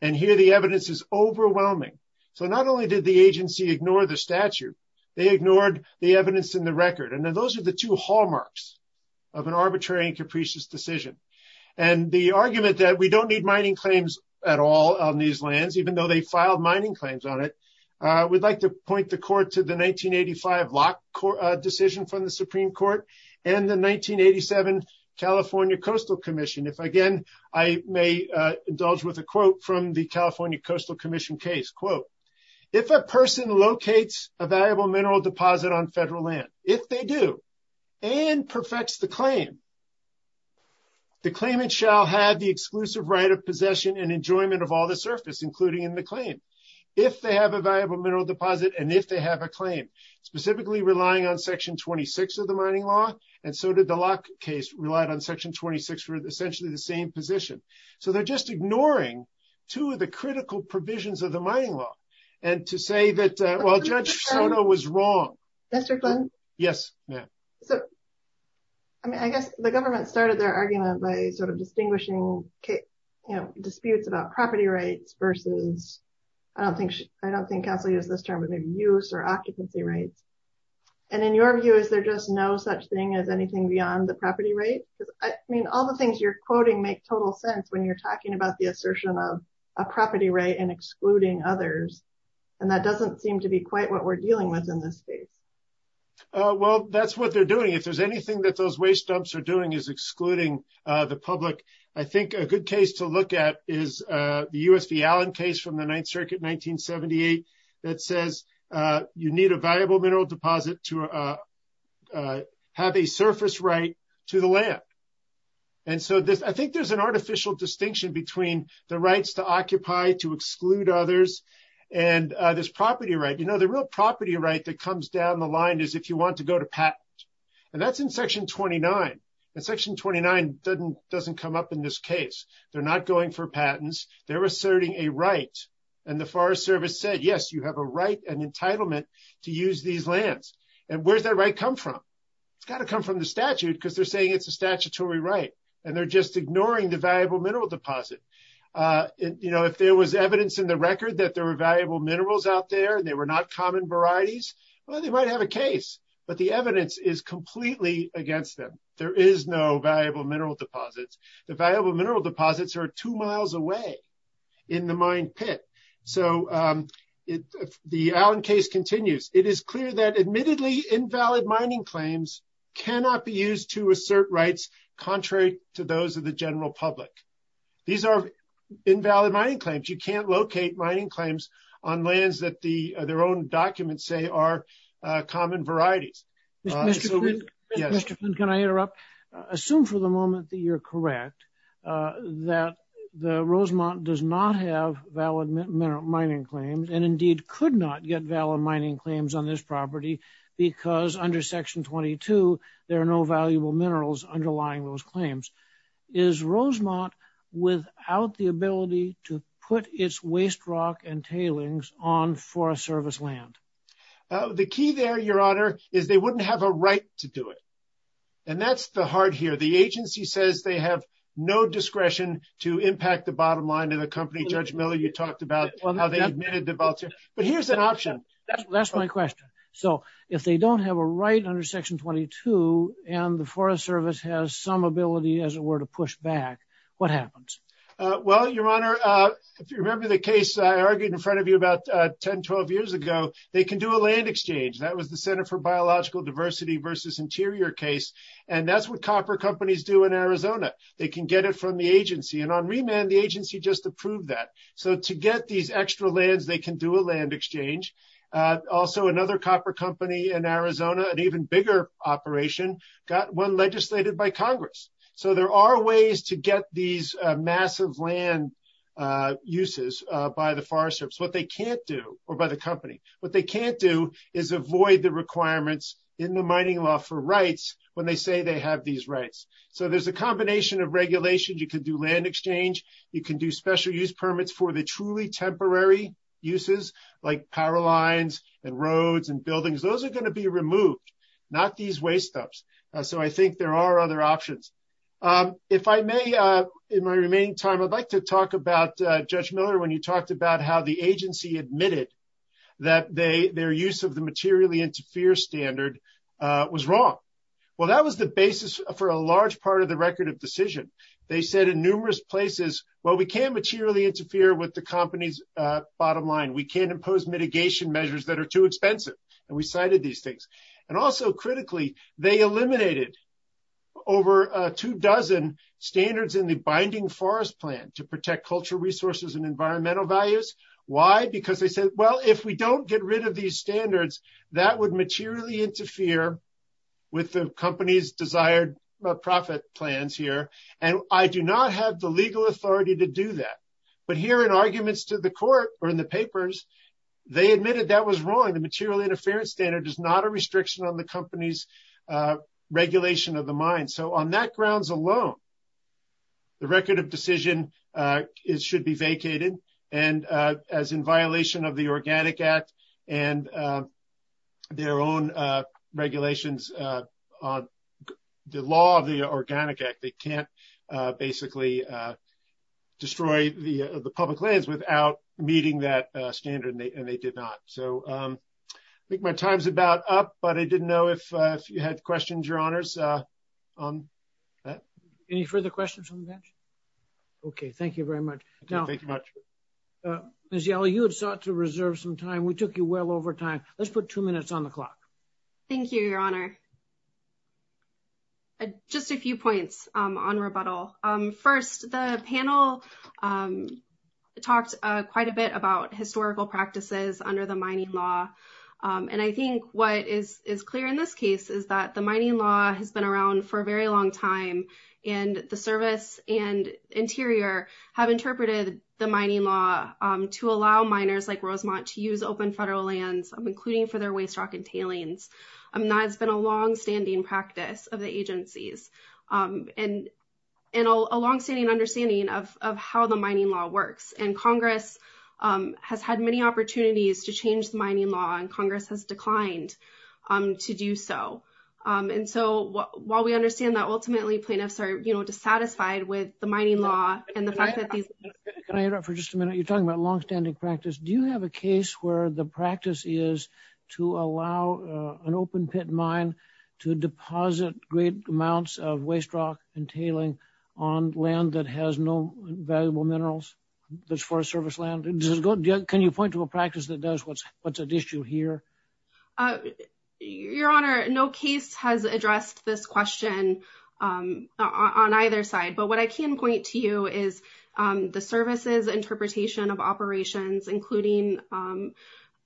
And here the evidence is overwhelming. So not only did the agency ignore the statute, they ignored the evidence in the record. And then those are the two hallmarks of an arbitrary and capricious decision. And the argument that we don't need mining claims at all on these lands, even though they filed mining claims on it, we'd like to point the court to the 1985 lock court decision from the Supreme court and the 1987 California coastal commission. If again, I may indulge with a quote from the California coastal commission case quote, if a person locates a valuable mineral deposit on federal land, if they do and perfects the claim, the claimant shall have the exclusive right of possession and enjoyment of all the surface, including in the claim. If they have a valuable mineral deposit. And if they have a claim specifically relying on section 26 of the mining law. And so did the lock case relied on section 26 for essentially the same position. So they're just ignoring two of the critical provisions of the mining law. And to say that, well, judge Soto was wrong. Yes, ma'am. I mean, I guess the government started their argument by sort of distinguishing, you know, disputes about property rights versus I don't think, I don't think I'll use this term of use or occupancy rates. And in your view, is there just no such thing as anything beyond the property rate? I mean, all the things you're quoting make total sense when you're talking about the assertion of a property rate and excluding others. And that doesn't seem to be quite what we're dealing with in this space. Well, that's what they're doing. If there's anything that those waste dumps are doing is excluding the public. I think a good case to look at is the USV Allen case from the ninth circuit, 1978. That says you need a viable mineral deposit to have a surface right to the land. And so this, I think there's an artificial distinction between the rights to occupy, to exclude others and this property, right? You know, the real property right that comes down the line is if you want to go to patent and that's in section 29. And section 29 doesn't come up in this case. They're not going for patents. They're asserting a right. And the forest service said, yes, you have a right and entitlement to use these lands. And where's that right come from? It's got to come from the statute because they're saying it's a statutory right. And they're just ignoring the valuable mineral deposit. You know, if there was evidence in the record that there were valuable minerals out there and they were not common varieties, well, they might have a case, but the evidence is completely against them. There is no valuable mineral deposits. The valuable mineral deposits are two miles away in the mine pit. So if the Allen case continues, it is clear that admittedly invalid mining claims cannot be used to assert rights. Contrary to those of the general public, these are invalid mining claims. You can't locate mining claims on lands that the, their own documents say are common varieties. I'm sorry. Can I interrupt assume for the moment that you're correct? That the Rosemont does not have valid mineral mining claims and indeed could not get valid mining claims on this property. Because under section 22, there are no valuable minerals underlying those claims. Is Rosemont. Without the ability to put its waste rock and tailings on for a service land. The key there, your honor is they wouldn't have a right to do it. And that's the heart here. The agency says they have no discretion to impact the bottom line of the company. Judge Miller, you talked about how they admitted the volunteer, but here's an option. That's my question. So if they don't have a right under section 22 and the forest service has some ability, as it were to push back, what happens? Well, your honor, if you remember the case I argued in front of you about 10, 12 years ago, they can do a land exchange. That was the center for biological diversity versus interior case. And that's what copper companies do in Arizona. They can get it from the agency. And on remand, the agency just approved that. So to get these extra lands, they can do a land exchange. Also another copper company in Arizona, an even bigger operation got one legislated by Congress. So there are ways to get these massive land uses by the forest. So, you know, there's a combination of regulations. You can do land exchange. You can do special use permits for the truly temporary uses like power lines and roads and buildings. Those are going to be removed. Not these waste stops. So I think there are other options. If I may, in my remaining time, I'd like to talk about judge Miller. The judge Miller, when you talked about how the agency admitted that they, their use of the materially interfere standard was wrong. Well, that was the basis for a large part of the record of decision. They said in numerous places, well, we can't materially interfere with the company's bottom line. We can't impose mitigation measures that are too expensive. And we cited these things. And also critically, they eliminated over a two dozen standards in the binding forest plan to protect cultural resources and environmental values. Why? Because they said, well, if we don't get rid of these standards, that would materially interfere with the company's desired profit plans here. And I do not have the legal authority to do that, but here in arguments to the court or in the papers, they admitted that was wrong. The material interference standard is not a restriction on the company's regulation of the mind. So on that grounds alone, The record of decision is, should be vacated and as in violation of the organic act and their own regulations on the law of the organic act, they can't basically destroy the, the public lands without meeting that standard. And they, and they did not. So I think my time's about up, but I didn't know if you had questions, Your honors. Any further questions on the bench. Okay. Thank you very much. Thank you much. Ms. Yellow, you had sought to reserve some time. We took you well over time. Let's put two minutes on the clock. Thank you, your honor. Just a few points on rebuttal. First, the panel talks quite a bit about historical practices under the mining law. And I think what is, is clear in this case is that the mining law has been around for a very long time. And the service and interior have interpreted the mining law to allow miners like Rosemont to use open federal lands. I'm including for their waste rock and tailings. I'm not, it's been a longstanding practice of the agencies and. And a longstanding understanding of, of how the mining law works and Congress has had many opportunities to change the mining law and Congress has declined to do so. And so while we understand that ultimately plaintiffs are, you know, dissatisfied with the mining law and the fact that these. Can I interrupt for just a minute? You're talking about longstanding practice. Do you have a case where the practice is to allow an open pit mine? To deposit great amounts of waste rock and tailing on land that has no valuable minerals. That's for a service land. Can you point to a practice that does what's what's an issue here? Your honor. No case has addressed this question on either side, but what I can point to you is the services interpretation of operations, including.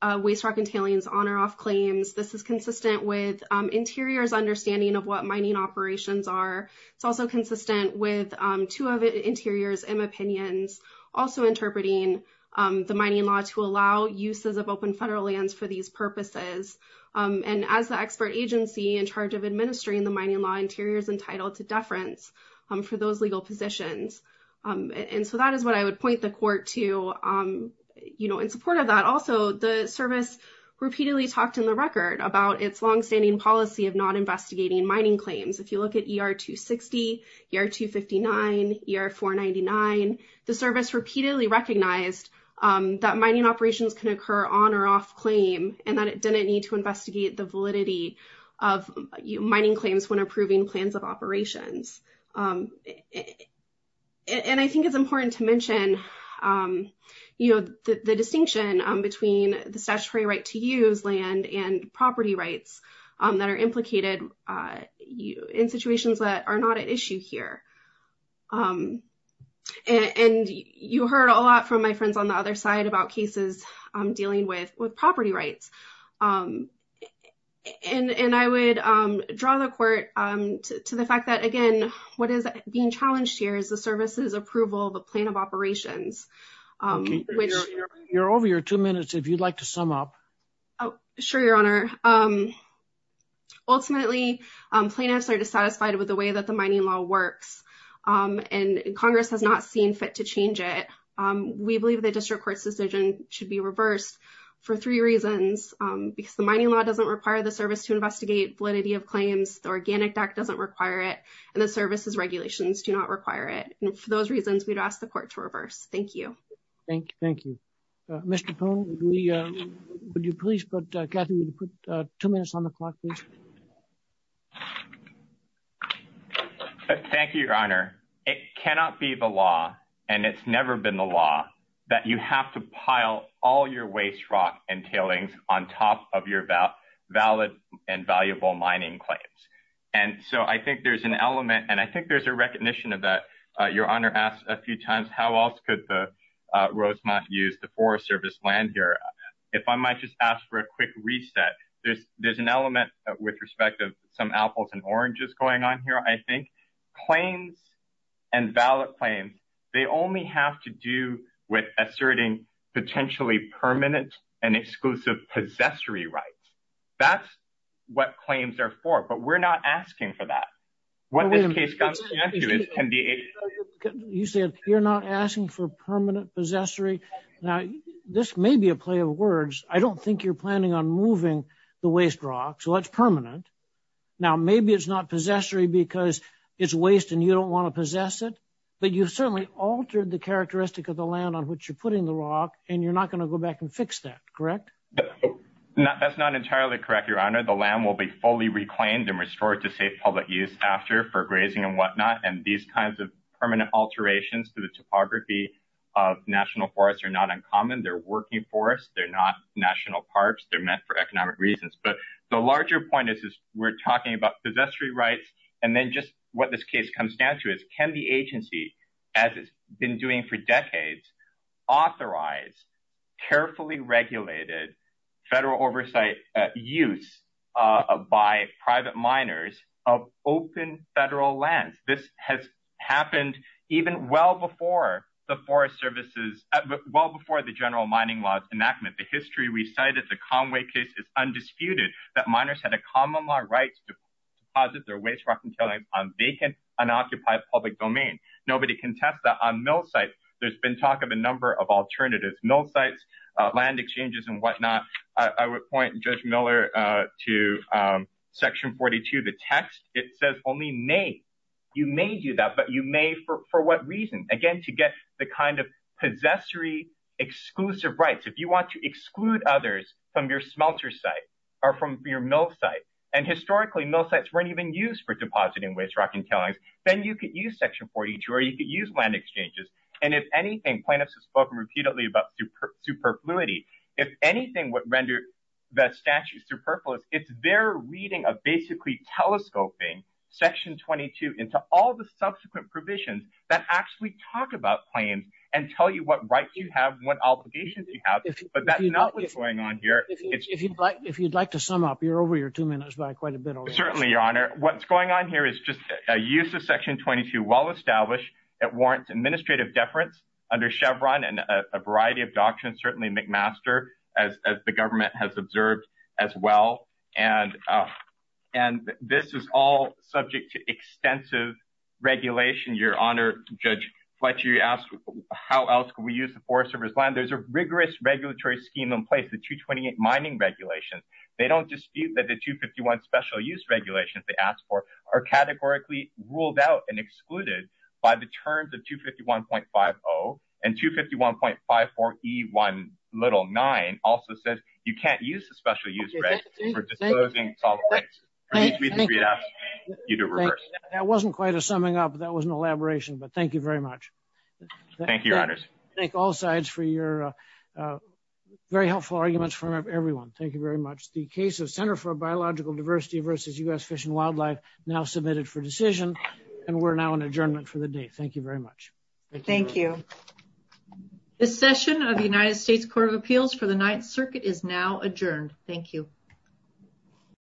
Waste rock and tailings on or off claims. This is consistent with interiors understanding of what mining operations are. It's also consistent with two of the interiors and opinions. Also, interpreting the mining law to allow uses of open federal lands for these purposes. And as the expert agency in charge of administering the mining law, interior is entitled to deference for those legal positions. And so that is what I would point the court to, you know, in support of that. Also, the service repeatedly talked in the record about its longstanding policy of not investigating mining claims. If you look at ER two 60 year, two 59 year, four 99, the service repeatedly recognized that mining operations can occur on or off claim. And that it didn't need to investigate the validity of mining claims when approving plans of operations. And I think it's important to mention, you know, the distinction between the statutory right to use land and property rights that are implicated. You in situations that are not at issue here. And you heard a lot from my friends on the other side about cases dealing with, with property rights. And I would draw the court to the fact that again, what is being challenged here is the services approval, the plan of operations. You're over your two minutes. If you'd like to sum up. Sure. Your honor. Ultimately plaintiffs are dissatisfied with the way that the mining law works and Congress has not seen fit to change it. We believe the district court's decision should be reversed for three reasons because the mining law doesn't require the service to investigate validity of claims. The organic deck doesn't require it and the services regulations do not require it. And for those reasons, we'd ask the court to reverse. Thank you. Thank you. Mr. Cone. Would you please put two minutes on the clock? Thank you, your honor. It cannot be the law and it's never been the law that you have to pile all your waste rock and tailings on top of your about valid and valuable mining claims. And so I think there's an element and I think there's a recognition of that. Your honor asked a few times, how else could the Rosemont use the forest service land here? If I might just ask for a quick reset, there's, there's an element with respect to some apples and oranges going on here. I think claims and ballot claims, they only have to do with asserting potentially permanent and exclusive possessory rights. That's what claims are for, but we're not asking for that. What this case can be. You said you're not asking for permanent possessory. Now this may be a play of words. I don't think you're planning on moving the waste rock. So that's permanent. Now maybe it's not possessory because it's waste and you don't want to possess it, but you've certainly altered the characteristic of the land on which you're putting the rock and you're not going to go back and fix that. Correct. No, that's not entirely correct. Your honor, the land will be fully reclaimed and restored to say public use after for So I think the point is that these kinds of permanent alterations to the topography. Of national forests are not uncommon. They're working for us. They're not national parks. They're meant for economic reasons, but the larger point is, is we're talking about possessory rights. And then just what this case comes down to is can the agency. As it's been doing for decades. Authorize. And this is the first time. Carefully regulated. Federal oversight. Use. By private miners of open federal land. This has happened. Even well before the forest services. Well, before the general mining laws enactment, the history. We cited the Conway case is undisputed. That miners had a common law rights. To the extent that they could deposit their waste rock and. On vacant. An occupied public domain. Nobody can test that on mill site. There's been talk of a number of alternatives, no sites. Land exchanges and whatnot. I would point judge Miller. To. Section 42. The text. It says only may. You may do that, but you may. For what reason again, to get the kind of. Possessory exclusive rights. If you want to exclude others from your smelter site. Or from your mill site. And historically, no sites weren't even used for depositing. Then you could use section 42. Or you could use land exchanges. And if anything, plaintiffs have spoken repeatedly about. Superfluity. If anything, what rendered. It's their reading of basically telescoping. Section 22 into all the subsequent provisions. That actually talk about claims. And tell you what rights you have, what obligations you have. But that's not what's going on here. If you'd like to sum up, you're over your two minutes by quite a bit. Certainly your honor. What's going on here is just a use of section 22. Well-established. It warrants administrative deference. Under Chevron and a variety of doctrines, certainly McMaster. And the government has observed as well. And. And this is all subject to extensive. Regulation your honor. Judge. How else can we use the forest? There's a rigorous regulatory scheme in place. The 228 mining regulations. They don't dispute that the two 51 special use regulations. They asked for. Are categorically ruled out and excluded. By the terms of two 51.5. Oh, and two 51.5. And the two 51.5. Or E one. Little nine. Also says you can't use the special use. For disposing. You to reverse. That wasn't quite a summing up. That was an elaboration, but thank you very much. Thank you. Thank all sides for your. Very helpful arguments from everyone. Thank you very much. The case of center for biological diversity versus us fish and wildlife. Now submitted for decision. And we're now an adjournment for the day. Thank you very much. Thank you. Thank you. Thank you.